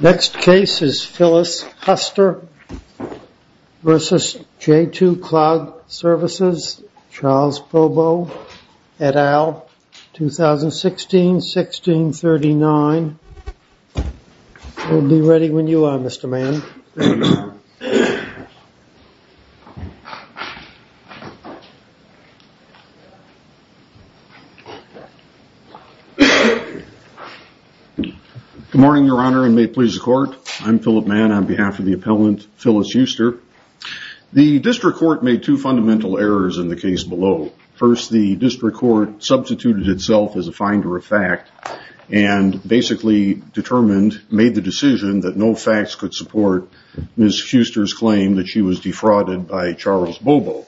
Next case is Phyllis Huster v. j2 Cloud Services, v. Charles Pobo et al., 2016-1639. We'll be ready when you are, Mr. Mann. Good morning, Your Honor, and may it please the Court. I'm Philip Mann on behalf of the appellant, Phyllis Huster. The District Court made two fundamental errors in the case below. First, the District Court substituted itself as a finder of fact and basically determined, made the decision that no facts could support Ms. Huster's claim that she was defrauded by Charles Pobo.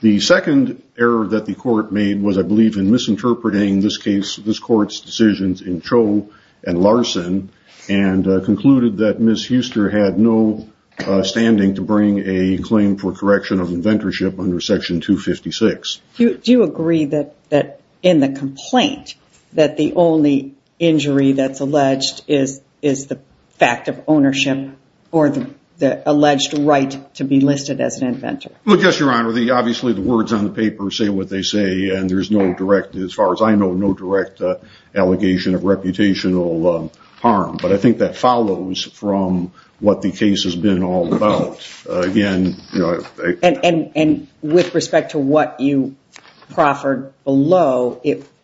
The second error that the Court made was, I believe, in misinterpreting this Court's decisions in Cho and Larson and concluded that Ms. Huster had no standing to bring a claim for correction of inventorship under Section 256. Do you agree that in the complaint that the only injury that's alleged is the fact of ownership or the alleged right to be listed as an inventor? Well, yes, Your Honor. Obviously, the words on the paper say what they say, and there's no direct, as far as I know, no direct allegation of reputational harm. But I think that follows from what the case has been all about. And with respect to what you proffered below,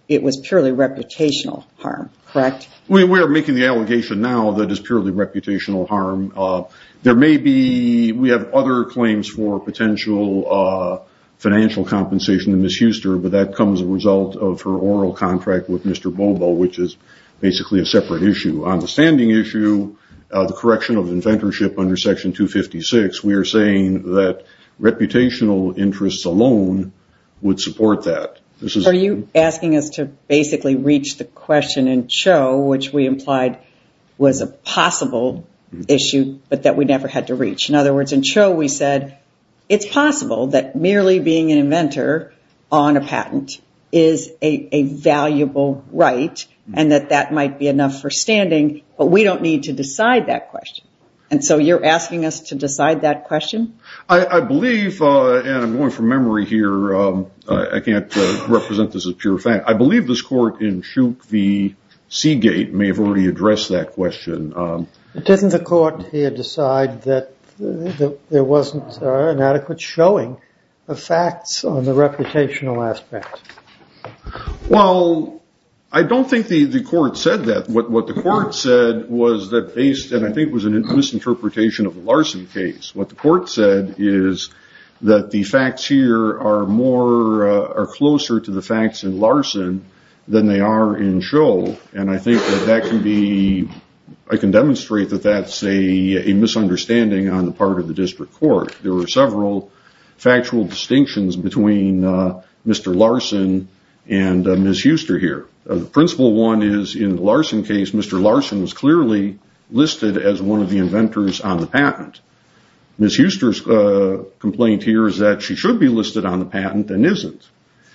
it was purely reputational harm, correct? We are making the allegation now that it's purely reputational harm. We have other claims for potential financial compensation to Ms. Huster, but that comes as a result of her oral contract with Mr. Bobo, which is basically a separate issue. On the standing issue, the correction of inventorship under Section 256, we are saying that reputational interests alone would support that. Are you asking us to basically reach the question in Cho, which we implied was a possible issue but that we never had to reach? In other words, in Cho we said it's possible that merely being an inventor on a patent is a valuable right and that that might be enough for standing, but we don't need to decide that question. And so you're asking us to decide that question? I believe, and I'm going from memory here, I can't represent this as pure fact, I believe this court in Chook v. Seagate may have already addressed that question. Doesn't the court here decide that there wasn't an adequate showing of facts on the reputational aspect? Well, I don't think the court said that. What the court said was that based, and I think it was a misinterpretation of the Larson case, what the court said is that the facts here are closer to the facts in Larson than they are in Cho, and I can demonstrate that that's a misunderstanding on the part of the district court. There were several factual distinctions between Mr. Larson and Ms. Huster here. The principal one is in the Larson case, Mr. Larson was clearly listed as one of the inventors on the patent. Ms. Huster's complaint here is that she should be listed on the patent and isn't.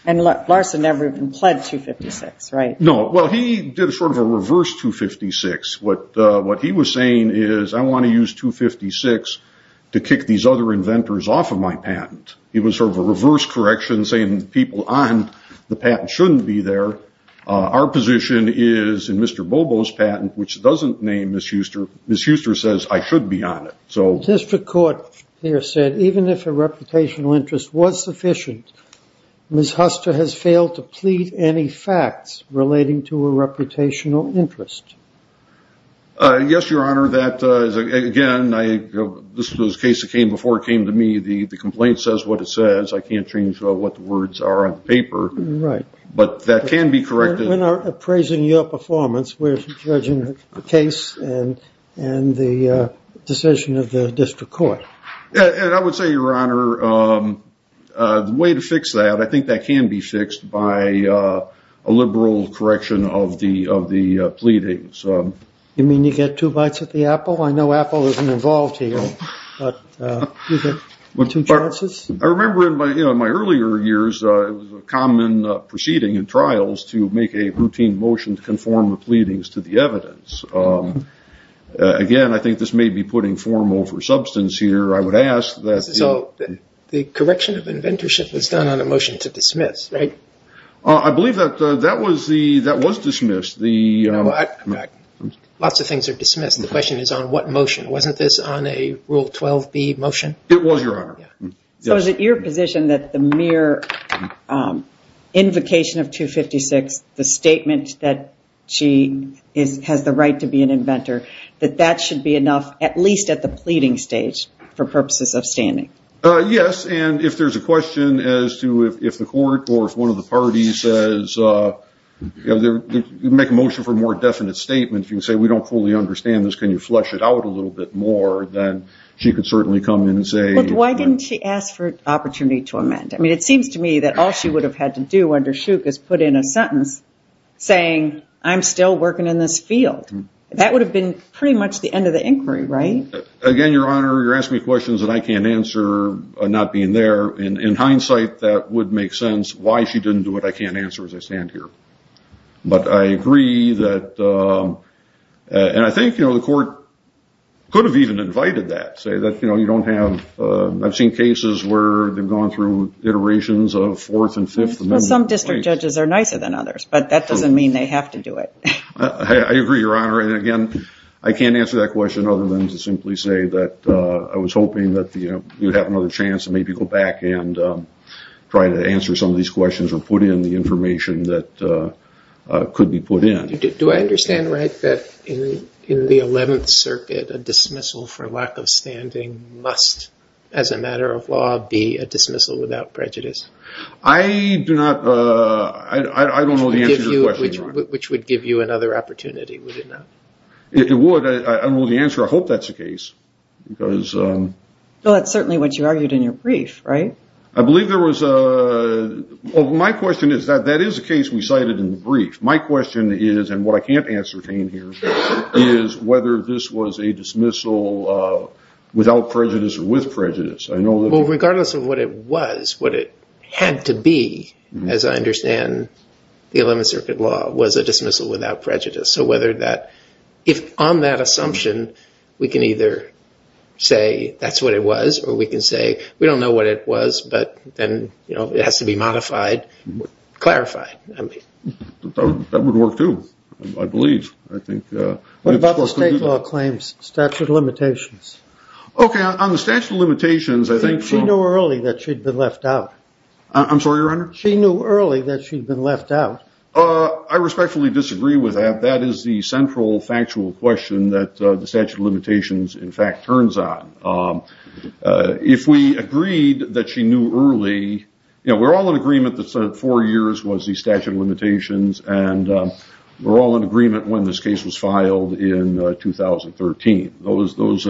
And Larson never even pled 256, right? No, well, he did sort of a reverse 256. What he was saying is I want to use 256 to kick these other inventors off of my patent. He was sort of a reverse correction saying people on the patent shouldn't be there. Our position is in Mr. Bobo's patent, which doesn't name Ms. Huster, Ms. Huster says I should be on it. The district court here said even if a reputational interest was sufficient, Ms. Huster has failed to plead any facts relating to a reputational interest. Yes, Your Honor, that again, this was a case that came before it came to me. The complaint says what it says. I can't change what the words are on the paper. Right. But that can be corrected. We're not appraising your performance. We're judging the case and the decision of the district court. And I would say, Your Honor, the way to fix that, I think that can be fixed by a liberal correction of the pleadings. You mean you get two bites at the apple? I know Apple isn't involved here. I remember in my earlier years, it was a common proceeding in trials to make a routine motion to conform the pleadings to the evidence. Again, I think this may be putting formal for substance here. I would ask that. So the correction of inventorship was done on a motion to dismiss, right? I believe that was dismissed. Lots of things are dismissed. The question is on what motion. Wasn't this on a Rule 12b motion? It was, Your Honor. So is it your position that the mere invocation of 256, the statement that she has the right to be an inventor, that that should be enough, at least at the pleading stage, for purposes of standing? Yes, and if there's a question as to if the court or if one of the parties says, make a motion for a more definite statement, if you say we don't fully understand this, can you flesh it out a little bit more, then she could certainly come in and say. Why didn't she ask for an opportunity to amend? It seems to me that all she would have had to do under Shook is put in a sentence saying, I'm still working in this field. That would have been pretty much the end of the inquiry, right? Again, Your Honor, you're asking me questions that I can't answer not being there. In hindsight, that would make sense. Why she didn't do it, I can't answer as I stand here. But I agree that, and I think the court could have even invited that, say that you don't have, I've seen cases where they've gone through iterations of Fourth and Fifth Amendment. Some district judges are nicer than others, but that doesn't mean they have to do it. I agree, Your Honor. And again, I can't answer that question other than to simply say that I was hoping that you'd have another chance to maybe go back and try to answer some of these questions or put in the information that could be put in. Do I understand right that in the Eleventh Circuit, a dismissal for lack of standing must, as a matter of law, be a dismissal without prejudice? I do not, I don't know the answer to your question, Your Honor. Which would give you another opportunity, would it not? It would. I don't know the answer. I hope that's the case. Well, that's certainly what you argued in your brief, right? I believe there was a, well, my question is that that is a case we cited in the brief. My question is, and what I can't answer, Jane, here, is whether this was a dismissal without prejudice or with prejudice. Well, regardless of what it was, what it had to be, as I understand the Eleventh Circuit law, was a dismissal without prejudice. So whether that, if on that assumption, we can either say that's what it was, or we can say we don't know what it was, but then it has to be modified, clarified. That would work, too, I believe. What about the state law claims, statute of limitations? Okay, on the statute of limitations, I think. She knew early that she'd been left out. I'm sorry, Your Honor? She knew early that she'd been left out. I respectfully disagree with that. That is the central factual question that the statute of limitations, in fact, turns on. If we agreed that she knew early, you know, we're all in agreement that four years was the statute of limitations, and we're all in agreement when this case was filed in 2013. Those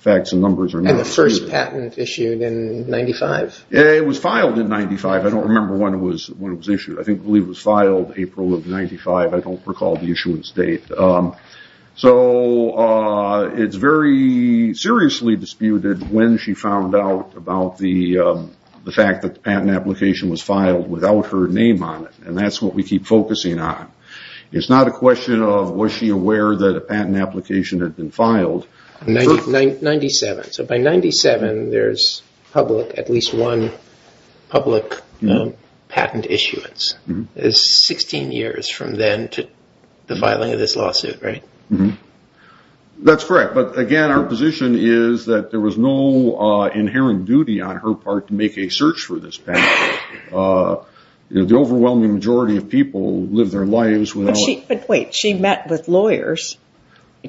facts and numbers are not the same either. And the first patent issued in 95. Yeah, it was filed in 95. I don't remember when it was issued. I believe it was filed April of 95. I don't recall the issuance date. So it's very seriously disputed when she found out about the fact that the patent application was filed without her name on it, and that's what we keep focusing on. It's not a question of was she aware that a patent application had been filed. 97. So by 97, there's public, at least one public patent issuance. It's 16 years from then to the filing of this lawsuit, right? That's correct. But, again, our position is that there was no inherent duty on her part to make a search for this patent. The overwhelming majority of people live their lives without it. But wait, she met with lawyers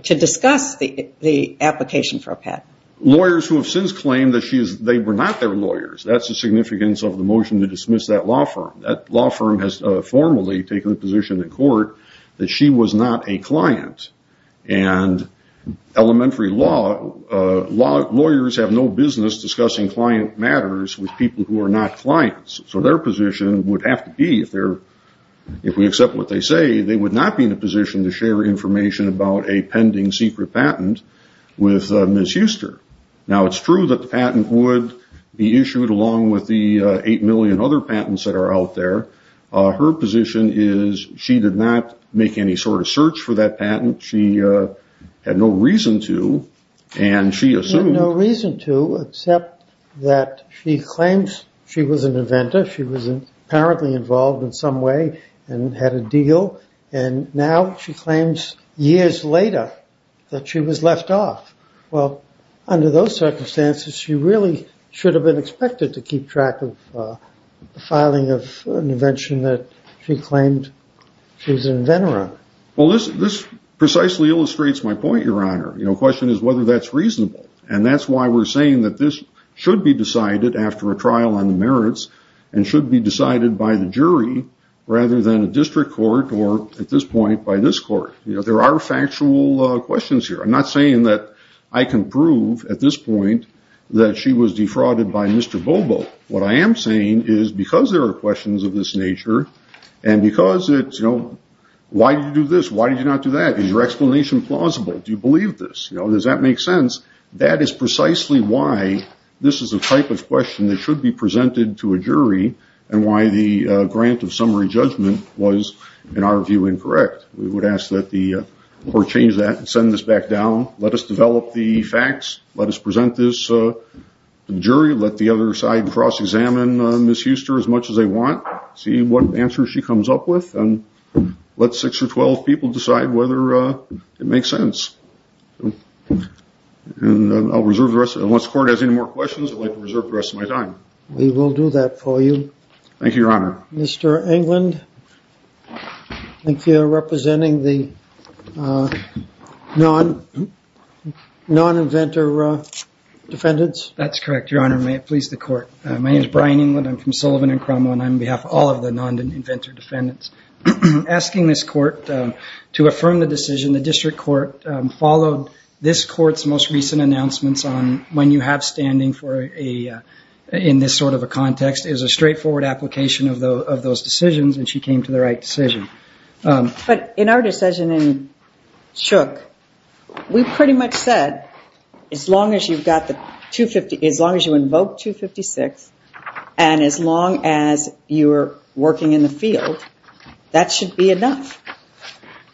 to discuss the application for a patent. Lawyers who have since claimed that they were not their lawyers. That's the significance of the motion to dismiss that law firm. That law firm has formally taken a position in court that she was not a client. And elementary law lawyers have no business discussing client matters with people who are not clients. So their position would have to be, if we accept what they say, they would not be in a position to share information about a pending secret patent with Ms. Huster. Now, it's true that the patent would be issued along with the 8 million other patents that are out there. Her position is she did not make any sort of search for that patent. She had no reason to. She had no reason to except that she claims she was an inventor. She was apparently involved in some way and had a deal. And now she claims years later that she was left off. Well, under those circumstances, she really should have been expected to keep track of the filing of an invention that she claimed she was an inventor of. Well, this precisely illustrates my point, Your Honor. The question is whether that's reasonable. And that's why we're saying that this should be decided after a trial on the merits and should be decided by the jury rather than a district court or, at this point, by this court. There are factual questions here. I'm not saying that I can prove at this point that she was defrauded by Mr. Bobo. What I am saying is because there are questions of this nature and because it's, you know, why did you do this? Why did you not do that? Is your explanation plausible? Do you believe this? You know, does that make sense? That is precisely why this is a type of question that should be presented to a jury and why the grant of summary judgment was, in our view, incorrect. We would ask that the court change that and send this back down. Let us develop the facts. Let us present this to the jury. Let the other side cross-examine Ms. Huster as much as they want, see what answer she comes up with, and let six or 12 people decide whether it makes sense. And I'll reserve the rest. Unless the court has any more questions, I'd like to reserve the rest of my time. We will do that for you. Thank you, Your Honor. Mr. Englund, I think you're representing the non-inventor defendants. That's correct, Your Honor. May it please the court. My name is Brian Englund. I'm from Sullivan and Cromwell, and I'm on behalf of all of the non-inventor defendants. Asking this court to affirm the decision, the district court followed this court's most recent announcements on when you have standing in this sort of a context. It was a straightforward application of those decisions, and she came to the right decision. But in our decision in Shook, we pretty much said as long as you invoke 256 and as long as you're working in the field, that should be enough,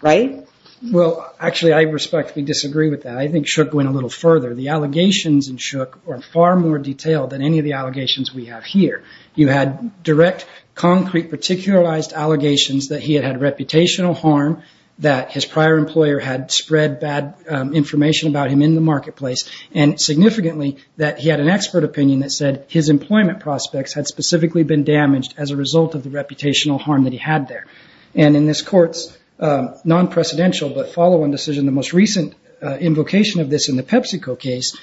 right? Well, actually, I respectfully disagree with that. I think Shook went a little further. The allegations in Shook are far more detailed than any of the allegations we have here. You had direct, concrete, particularized allegations that he had had reputational harm, that his prior employer had spread bad information about him in the marketplace, and significantly that he had an expert opinion that said his employment prospects had specifically been damaged as a result of the reputational harm that he had there. And in this court's non-precedential but follow-on decision, the most recent invocation of this in the PepsiCo case,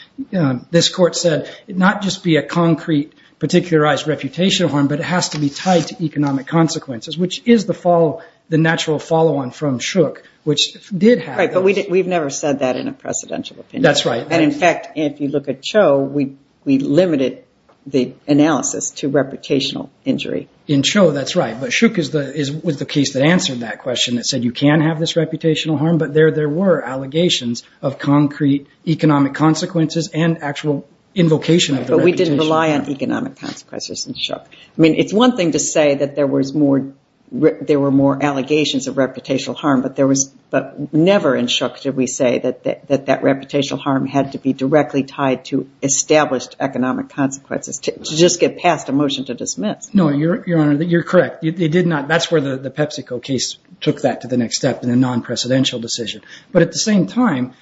this court said not just be a concrete, particularized reputational harm, but it has to be tied to economic consequences, which is the natural follow-on from Shook, which did have those. Right, but we've never said that in a precedential opinion. That's right. And in fact, if you look at Cho, we limited the analysis to reputational injury. In Cho, that's right. But Shook was the case that answered that question, that said you can have this reputational harm, but there were allegations of concrete economic consequences and actual invocation of the reputation. But we didn't rely on economic consequences in Shook. I mean, it's one thing to say that there were more allegations of reputational harm, but never in Shook did we say that that reputational harm had to be directly tied to established economic consequences, to just get past a motion to dismiss. No, Your Honor, you're correct. That's where the PepsiCo case took that to the next step in a non-precedential decision. But at the same time,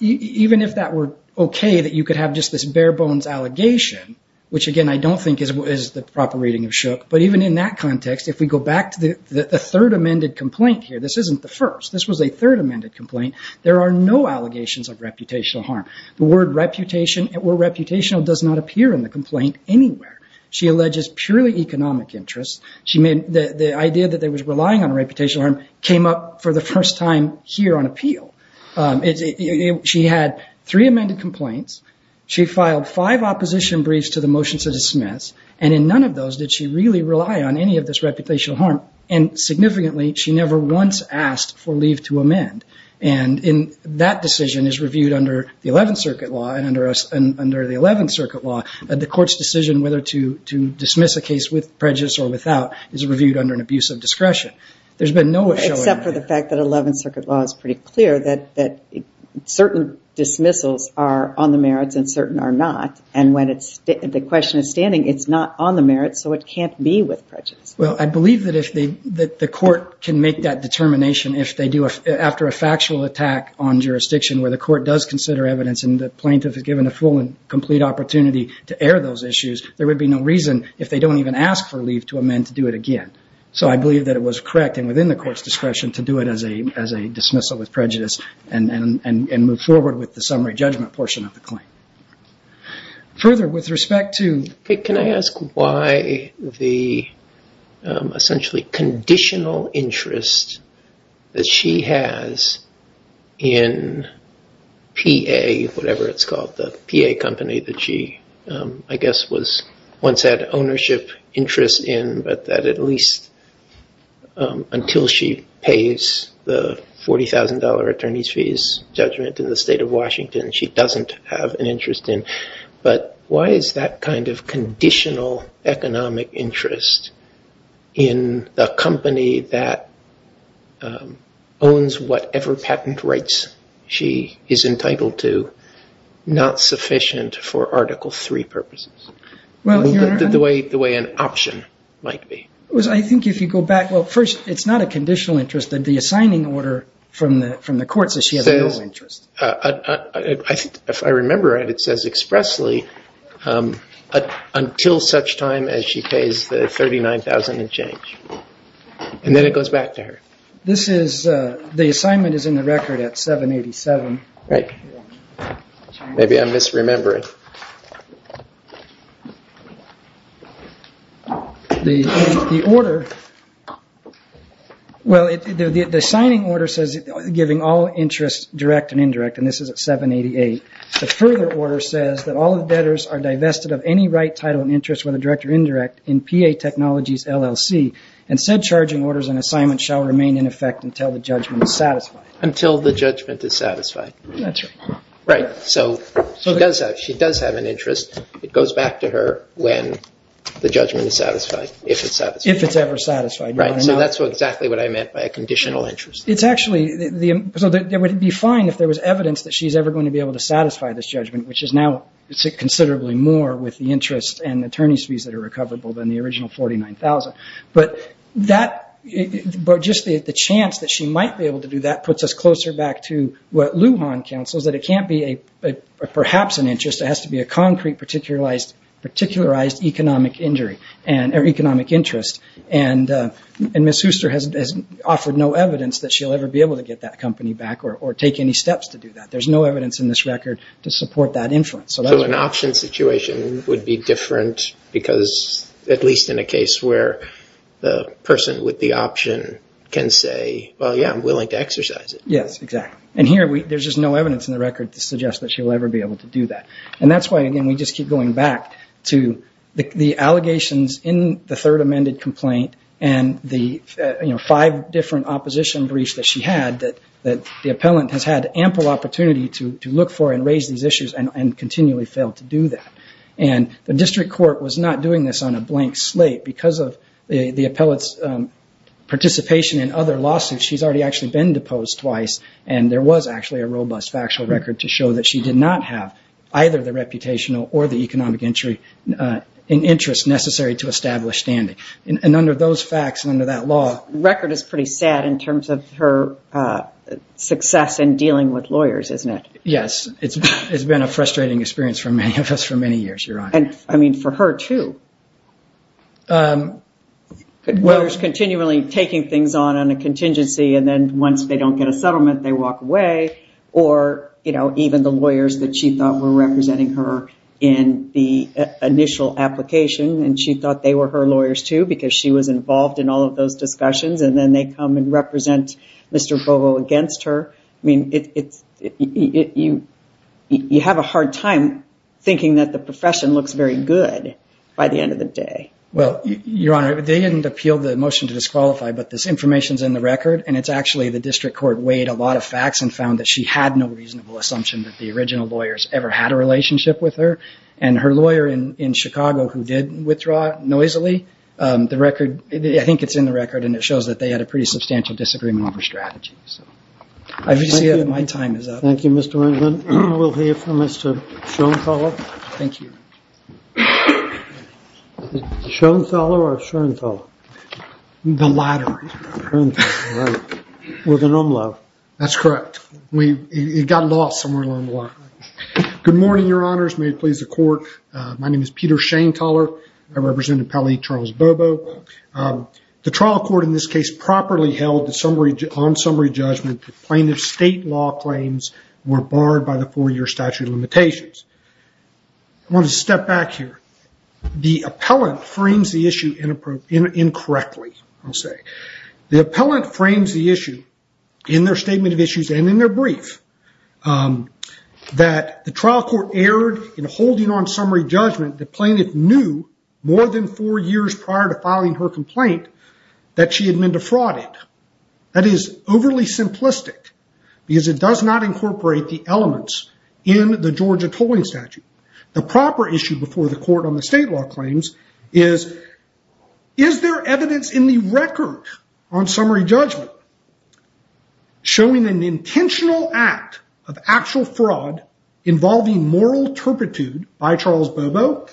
even if that were okay that you could have just this bare-bones allegation, which, again, I don't think is the proper reading of Shook, but even in that context, if we go back to the third amended complaint here, this isn't the first. This was a third amended complaint. There are no allegations of reputational harm. The word reputational does not appear in the complaint anywhere. She alleges purely economic interests. The idea that they were relying on a reputational harm came up for the first time here on appeal. She had three amended complaints. She filed five opposition briefs to the motion to dismiss, and in none of those did she really rely on any of this reputational harm. And significantly, she never once asked for leave to amend. And that decision is reviewed under the Eleventh Circuit Law, and under the Eleventh Circuit Law, the court's decision whether to dismiss a case with prejudice or without is reviewed under an abuse of discretion. There's been no issue. Except for the fact that Eleventh Circuit Law is pretty clear that certain dismissals are on the merits and certain are not, and when the question is standing, it's not on the merits, so it can't be with prejudice. Well, I believe that the court can make that determination if they do, and if the plaintiff is given a full and complete opportunity to air those issues, there would be no reason if they don't even ask for leave to amend to do it again. So I believe that it was correct and within the court's discretion to do it as a dismissal with prejudice and move forward with the summary judgment portion of the claim. Further, with respect to... Can I ask why the essentially conditional interest that she has in PA, whatever it's called, the PA company that she, I guess, once had ownership interest in, but that at least until she pays the $40,000 attorney's fees judgment in the state of Washington, she doesn't have an interest in. But why is that kind of conditional economic interest in the company that owns whatever patent rights she is entitled to not sufficient for Article III purposes, the way an option might be? Well, I think if you go back... Well, first, it's not a conditional interest that the assigning order from the court says she has no interest. If I remember right, it says expressly until such time as she pays the $39,000 and change. And then it goes back to her. This is... The assignment is in the record at 787. Right. Maybe I'm misremembering. The order... Well, the assigning order says giving all interest direct and indirect, and this is at 788. The further order says that all the debtors are divested of any right, title, and interest whether direct or indirect in PA Technologies LLC. And said charging orders and assignments shall remain in effect until the judgment is satisfied. Until the judgment is satisfied. That's right. Right. So she does have an interest. It goes back to her when the judgment is satisfied, if it's satisfied. If it's ever satisfied. Right. So that's exactly what I meant by a conditional interest. It's actually... So it would be fine if there was evidence that she's ever going to be able to satisfy this judgment, which is now considerably more with the interest and attorney's fees that are recoverable than the original $49,000. But just the chance that she might be able to do that puts us closer back to what Lujan counsels, that it can't be perhaps an interest. It has to be a concrete, particularized economic interest. And Ms. Hooster has offered no evidence that she'll ever be able to get that company back or take any steps to do that. There's no evidence in this record to support that inference. So an option situation would be different because at least in a case where the person with the option can say, well, yeah, I'm willing to exercise it. Yes, exactly. And here there's just no evidence in the record to suggest that she'll ever be able to do that. And that's why, again, we just keep going back to the allegations in the third amended complaint and the five different opposition briefs that she had that the appellant has had ample opportunity to look for and raise these issues and continually failed to do that. And the district court was not doing this on a blank slate because of the appellant's participation in other lawsuits. She's already actually been deposed twice, and there was actually a robust factual record to show that she did not have either the reputational or the economic interest necessary to establish standing. And under those facts and under that law. The record is pretty sad in terms of her success in dealing with lawyers, isn't it? Yes. It's been a frustrating experience for many of us for many years, Your Honor. And, I mean, for her too. Lawyers continually taking things on on a contingency and then once they don't get a settlement, they walk away. Or, you know, even the lawyers that she thought were representing her in the initial application and she thought they were her lawyers too because she was involved in all of those discussions and then they come and represent Mr. Bovo against her. I mean, you have a hard time thinking that the profession looks very good by the end of the day. Well, Your Honor, they didn't appeal the motion to disqualify, but this information is in the record and it's actually the district court weighed a lot of facts and found that she had no reasonable assumption that the original lawyers ever had a relationship with her. And her lawyer in Chicago who did withdraw noisily, the record, I think it's in the record and it shows that they had a pretty substantial disagreement over strategies. I just see that my time is up. Thank you, Mr. Wendland. We'll hear from Mr. Schoenfeller. Thank you. Schoenfeller or Schoenthaler? The latter. Schoenthaler, right. With an umlaut. That's correct. It got lost somewhere along the line. Good morning, Your Honors. May it please the Court. My name is Peter Schoenthaler. I represent Appellee Charles Bovo. The trial court in this case properly held on summary judgment that plaintiff's state law claims were barred by the four-year statute of limitations. I want to step back here. The appellant frames the issue incorrectly, I'll say. The appellant frames the issue in their statement of issues and in their brief that the trial court erred in holding on summary judgment that plaintiff knew more than four years prior to filing her complaint that she had been defrauded. That is overly simplistic because it does not incorporate the elements in the Georgia tolling statute. The proper issue before the court on the state law claims is, is there evidence in the record on summary judgment showing an intentional act of actual fraud involving moral turpitude by Charles Bovo?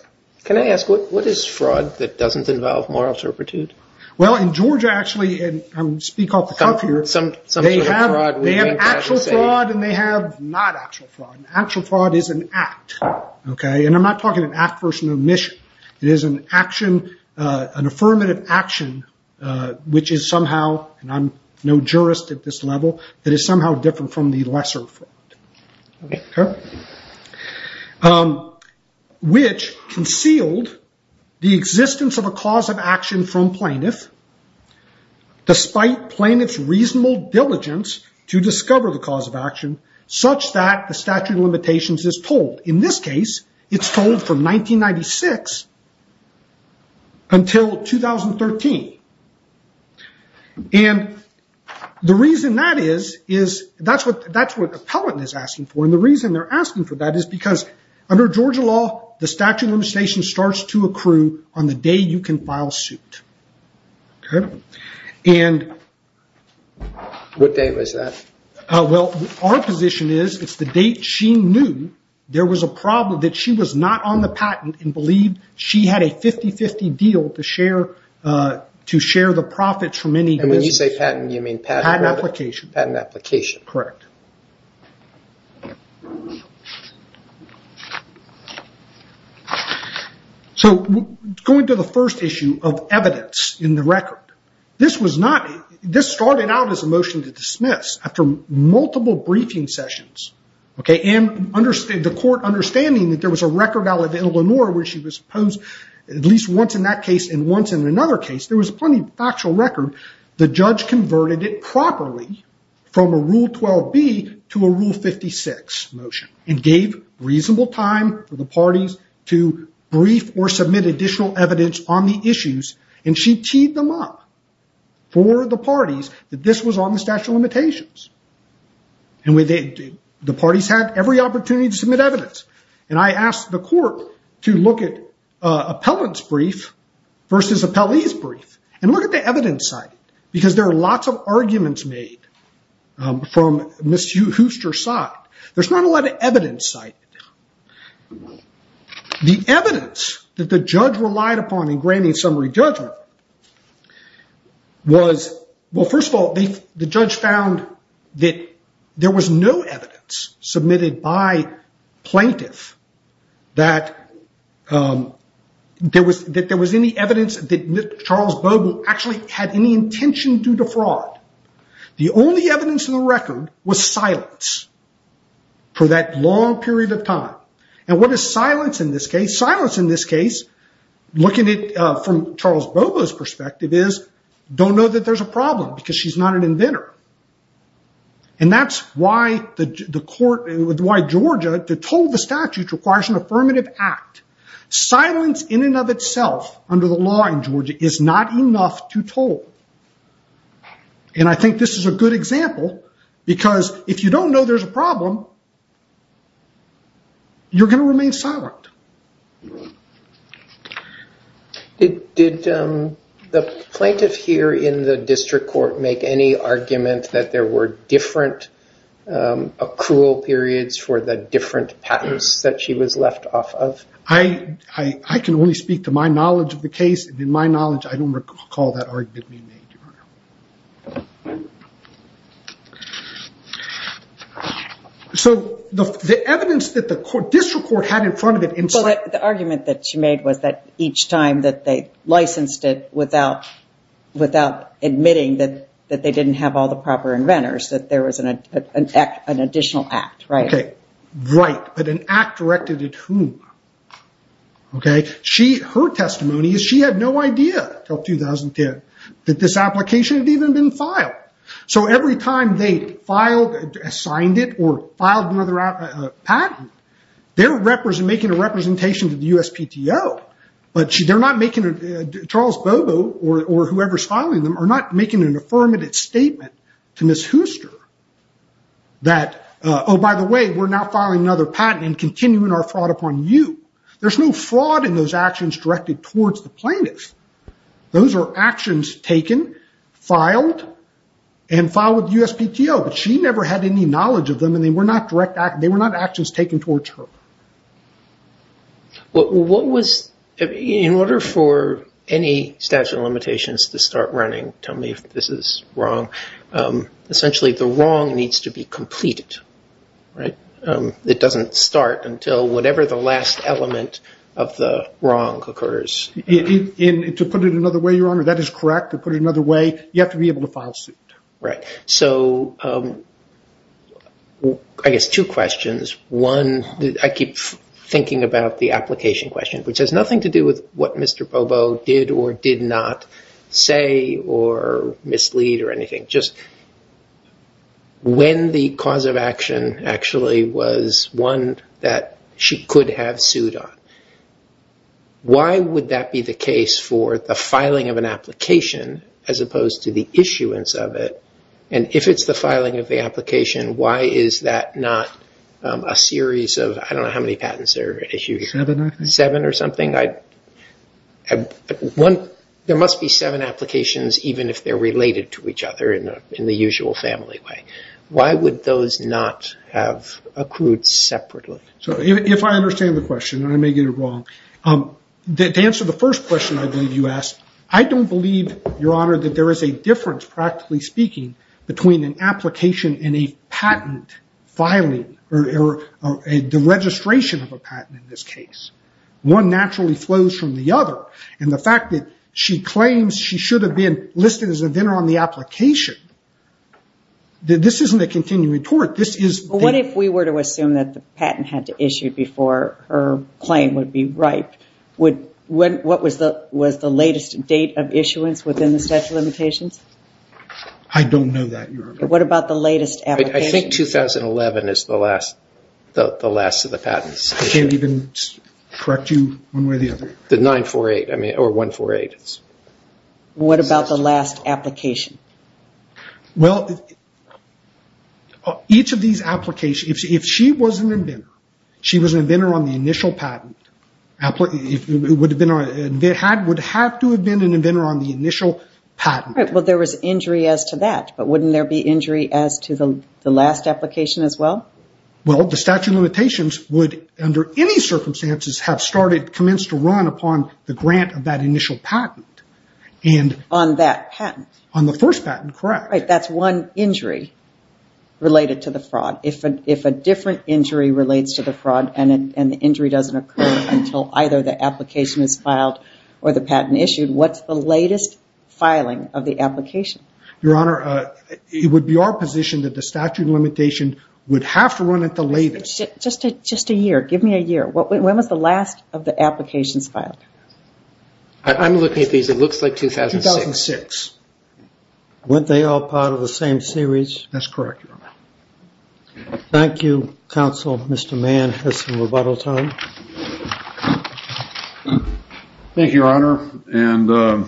Can I ask, what is fraud that doesn't involve moral turpitude? Well, in Georgia, actually, and I'm going to speak off the cuff here, they have actual fraud and they have not actual fraud. Actual fraud is an act, okay? And I'm not talking an act versus an omission. It is an action, an affirmative action, which is somehow, and I'm no jurist at this level, that is somehow different from the lesser fraud. Okay. Which concealed the existence of a cause of action from plaintiff despite plaintiff's reasonable diligence to discover the cause of action such that the statute of limitations is told. In this case, it's told from 1996 until 2013. And the reason that is, is that's what appellant is asking for. And the reason they're asking for that is because under Georgia law, the statute of limitations starts to accrue on the day you can file suit. Okay? And... What day was that? Well, our position is it's the date she knew there was a problem, that she was not on the patent and believed she had a 50-50 deal to share the profits from any... And when you say patent, you mean patent... Patent application. Patent application. Correct. So going to the first issue of evidence in the record. This was not... This started out as a motion to dismiss after multiple briefing sessions. Okay? And the court understanding that there was a record out of Illinois where she was posed at least once in that case and once in another case, there was plenty of factual record, the judge converted it properly from a Rule 12b to a Rule 56 motion and gave reasonable time for the parties to brief or submit additional evidence on the issues. And she teed them up for the parties that this was on the statute of limitations. And the parties had every opportunity to submit evidence. And I asked the court to look at Appellant's brief versus Appellee's brief and look at the evidence cited, because there are lots of arguments made from Ms. Hooster's side. There's not a lot of evidence cited. The evidence that the judge relied upon in granting summary judgment was... There was no evidence submitted by plaintiff that there was any evidence that Charles Bobo actually had any intention to defraud. The only evidence in the record was silence for that long period of time. And what is silence in this case? Silence in this case, looking at it from Charles Bobo's perspective, is don't know that there's a problem because she's not an inventor. And that's why Georgia, to toll the statute requires an affirmative act. Silence in and of itself under the law in Georgia is not enough to toll. And I think this is a good example because if you don't know there's a problem, you're going to remain silent. Did the plaintiff here in the district court make any argument that there were different accrual periods for the different patents that she was left off of? I can only speak to my knowledge of the case. In my knowledge, I don't recall that argument being made, Your Honor. So the evidence that the district court had in front of it in silence. The argument that she made was that each time that they licensed it without admitting that they didn't have all the proper inventors, that there was an additional act, right? Right, but an act directed at whom? Her testimony is she had no idea until 2010 that this application had even been filed. So every time they filed, assigned it, or filed another patent, they're making a representation to the USPTO. But Charles Bobo, or whoever's filing them, are not making an affirmative statement to Ms. Hooster that, oh, by the way, we're now filing another patent and continuing our fraud upon you. There's no fraud in those actions directed towards the plaintiff. Those are actions taken, filed, and filed with the USPTO. But she never had any knowledge of them, and they were not actions taken towards her. What was, in order for any statute of limitations to start running, tell me if this is wrong, essentially the wrong needs to be completed, right? It doesn't start until whatever the last element of the wrong occurs. To put it another way, Your Honor, that is correct. To put it another way, you have to be able to file suit. Right. So I guess two questions. One, I keep thinking about the application question, which has nothing to do with what Mr. Bobo did or did not say or mislead or anything. Just when the cause of action actually was one that she could have sued on, why would that be the case for the filing of an application as opposed to the issuance of it? And if it's the filing of the application, why is that not a series of, I don't know how many patents there are issued here. Seven, I think. Seven or something? There must be seven applications, even if they're related to each other in the usual family way. Why would those not have accrued separately? If I understand the question, and I may get it wrong, to answer the first question I believe you asked, I don't believe, Your Honor, that there is a difference, practically speaking, between an application and a patent filing or the registration of a patent in this case. One naturally flows from the other, and the fact that she claims she should have been listed as a vendor on the application, this isn't a continuing tort. What if we were to assume that the patent had to issue before her claim would be right? What was the latest date of issuance within the statute of limitations? I don't know that, Your Honor. What about the latest application? I think 2011 is the last of the patents. I can't even correct you one way or the other. The 948 or 148. What about the last application? Each of these applications, if she was an inventor, she was an inventor on the initial patent, would have to have been an inventor on the initial patent. There was injury as to that, but wouldn't there be injury as to the last application as well? The statute of limitations would, under any circumstances, have commenced to run upon the grant of that initial patent. On that patent? On the first patent, correct. That's one injury related to the fraud. If a different injury relates to the fraud and the injury doesn't occur until either the application is filed or the patent issued, what's the latest filing of the application? Your Honor, it would be our position that the statute of limitations would have to run at the latest. Just a year. Give me a year. When was the last of the applications filed? I'm looking at these. It looks like 2006. 2006. Weren't they all part of the same series? That's correct, Your Honor. Thank you, Counsel. Mr. Mann has some rebuttal time. Thank you, Your Honor.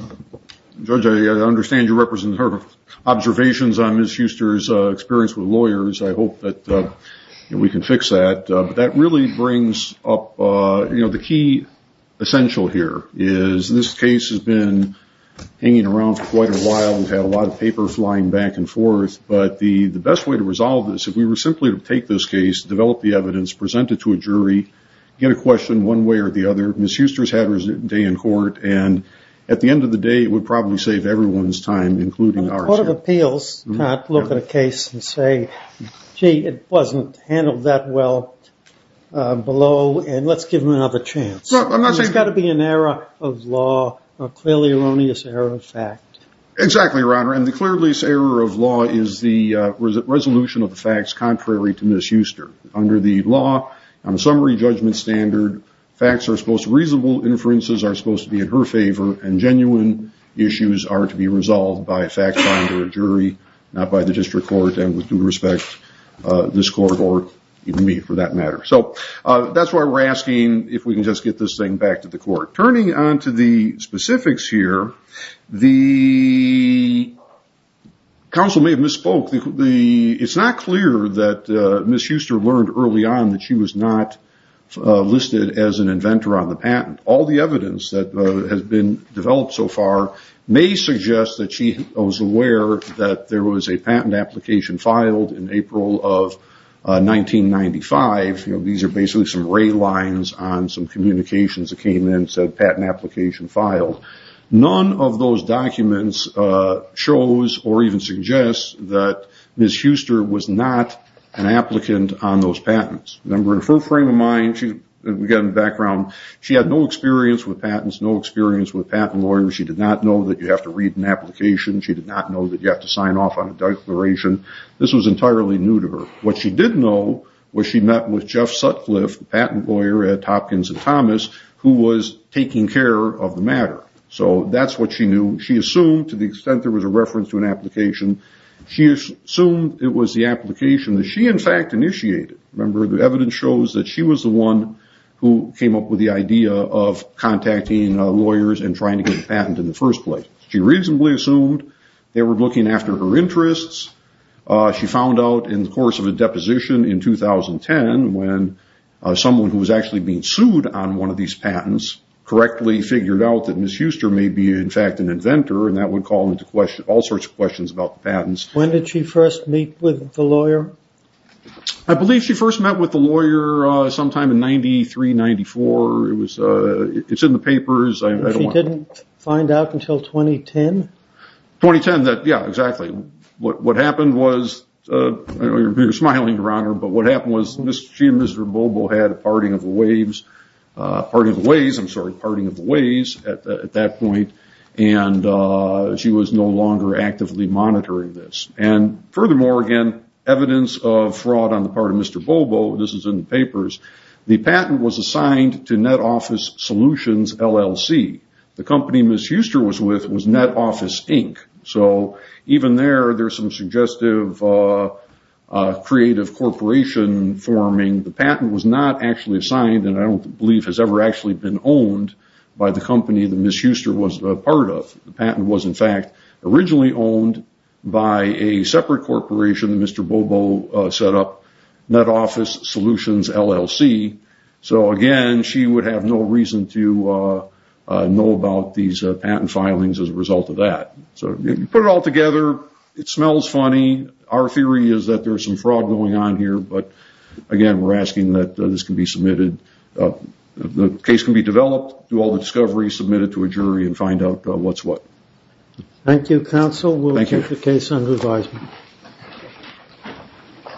Judge, I understand you represent observations on Ms. Huster's experience with lawyers. I hope that we can fix that. That really brings up the key essential here. This case has been hanging around for quite a while. We've had a lot of paper flying back and forth. But the best way to resolve this, if we were simply to take this case, develop the evidence, present it to a jury, get a question one way or the other, Ms. Huster's had her day in court, and at the end of the day, it would probably save everyone's time, including ours. A court of appeals cannot look at a case and say, gee, it wasn't handled that well below, and let's give them another chance. There's got to be an error of law, a clearly erroneous error of fact. Exactly, Your Honor. And the clearly erroneous error of law is the resolution of the facts contrary to Ms. Huster. Under the law, on a summary judgment standard, facts are supposed to be reasonable, inferences are supposed to be in her favor, and genuine issues are to be resolved by a fact finder or jury, not by the district court, and with due respect, this court or even me, for that matter. So that's why we're asking if we can just get this thing back to the court. Turning on to the specifics here, the counsel may have misspoke. It's not clear that Ms. Huster learned early on that she was not listed as an inventor on the patent. All the evidence that has been developed so far may suggest that she was aware that there was a patent application filed in April of 1995. These are basically some ray lines on some communications that came in and said patent application filed. None of those documents shows or even suggests that Ms. Huster was not an applicant on those patents. Remember, in her frame of mind, she had no experience with patents, no experience with patent lawyers. She did not know that you have to read an application. She did not know that you have to sign off on a declaration. This was entirely new to her. What she did know was she met with Jeff Sutcliffe, a patent lawyer at Hopkins and Thomas, who was taking care of the matter. So that's what she knew. She assumed, to the extent there was a reference to an application, she assumed it was the application that she, in fact, initiated. Remember, the evidence shows that she was the one who came up with the idea of contacting lawyers and trying to get a patent in the first place. She reasonably assumed they were looking after her interests. She found out in the course of a deposition in 2010 when someone who was actually being sued on one of these patents correctly figured out that Ms. Huster may be, in fact, an inventor, and that would call into question all sorts of questions about the patents. When did she first meet with the lawyer? I believe she first met with the lawyer sometime in 1993, 1994. It's in the papers. She didn't find out until 2010? 2010, yeah, exactly. What happened was, I know you're smiling, Your Honor, but what happened was she and Mr. Bobo had a parting of the ways at that point, and she was no longer actively monitoring this. And furthermore, again, evidence of fraud on the part of Mr. Bobo, this is in the papers, the patent was assigned to Net Office Solutions, LLC. The company Ms. Huster was with was Net Office, Inc. So even there, there's some suggestive creative corporation forming. The patent was not actually assigned and I don't believe has ever actually been owned by the company that Ms. Huster was a part of. The patent was, in fact, originally owned by a separate corporation that Mr. Bobo set up, Net Office Solutions, LLC. So, again, she would have no reason to know about these patent filings as a result of that. So you put it all together, it smells funny. Our theory is that there's some fraud going on here, but, again, we're asking that this can be submitted. The case can be developed, do all the discoveries, submit it to a jury, and find out what's what. Thank you, counsel. We'll take the case under advisement.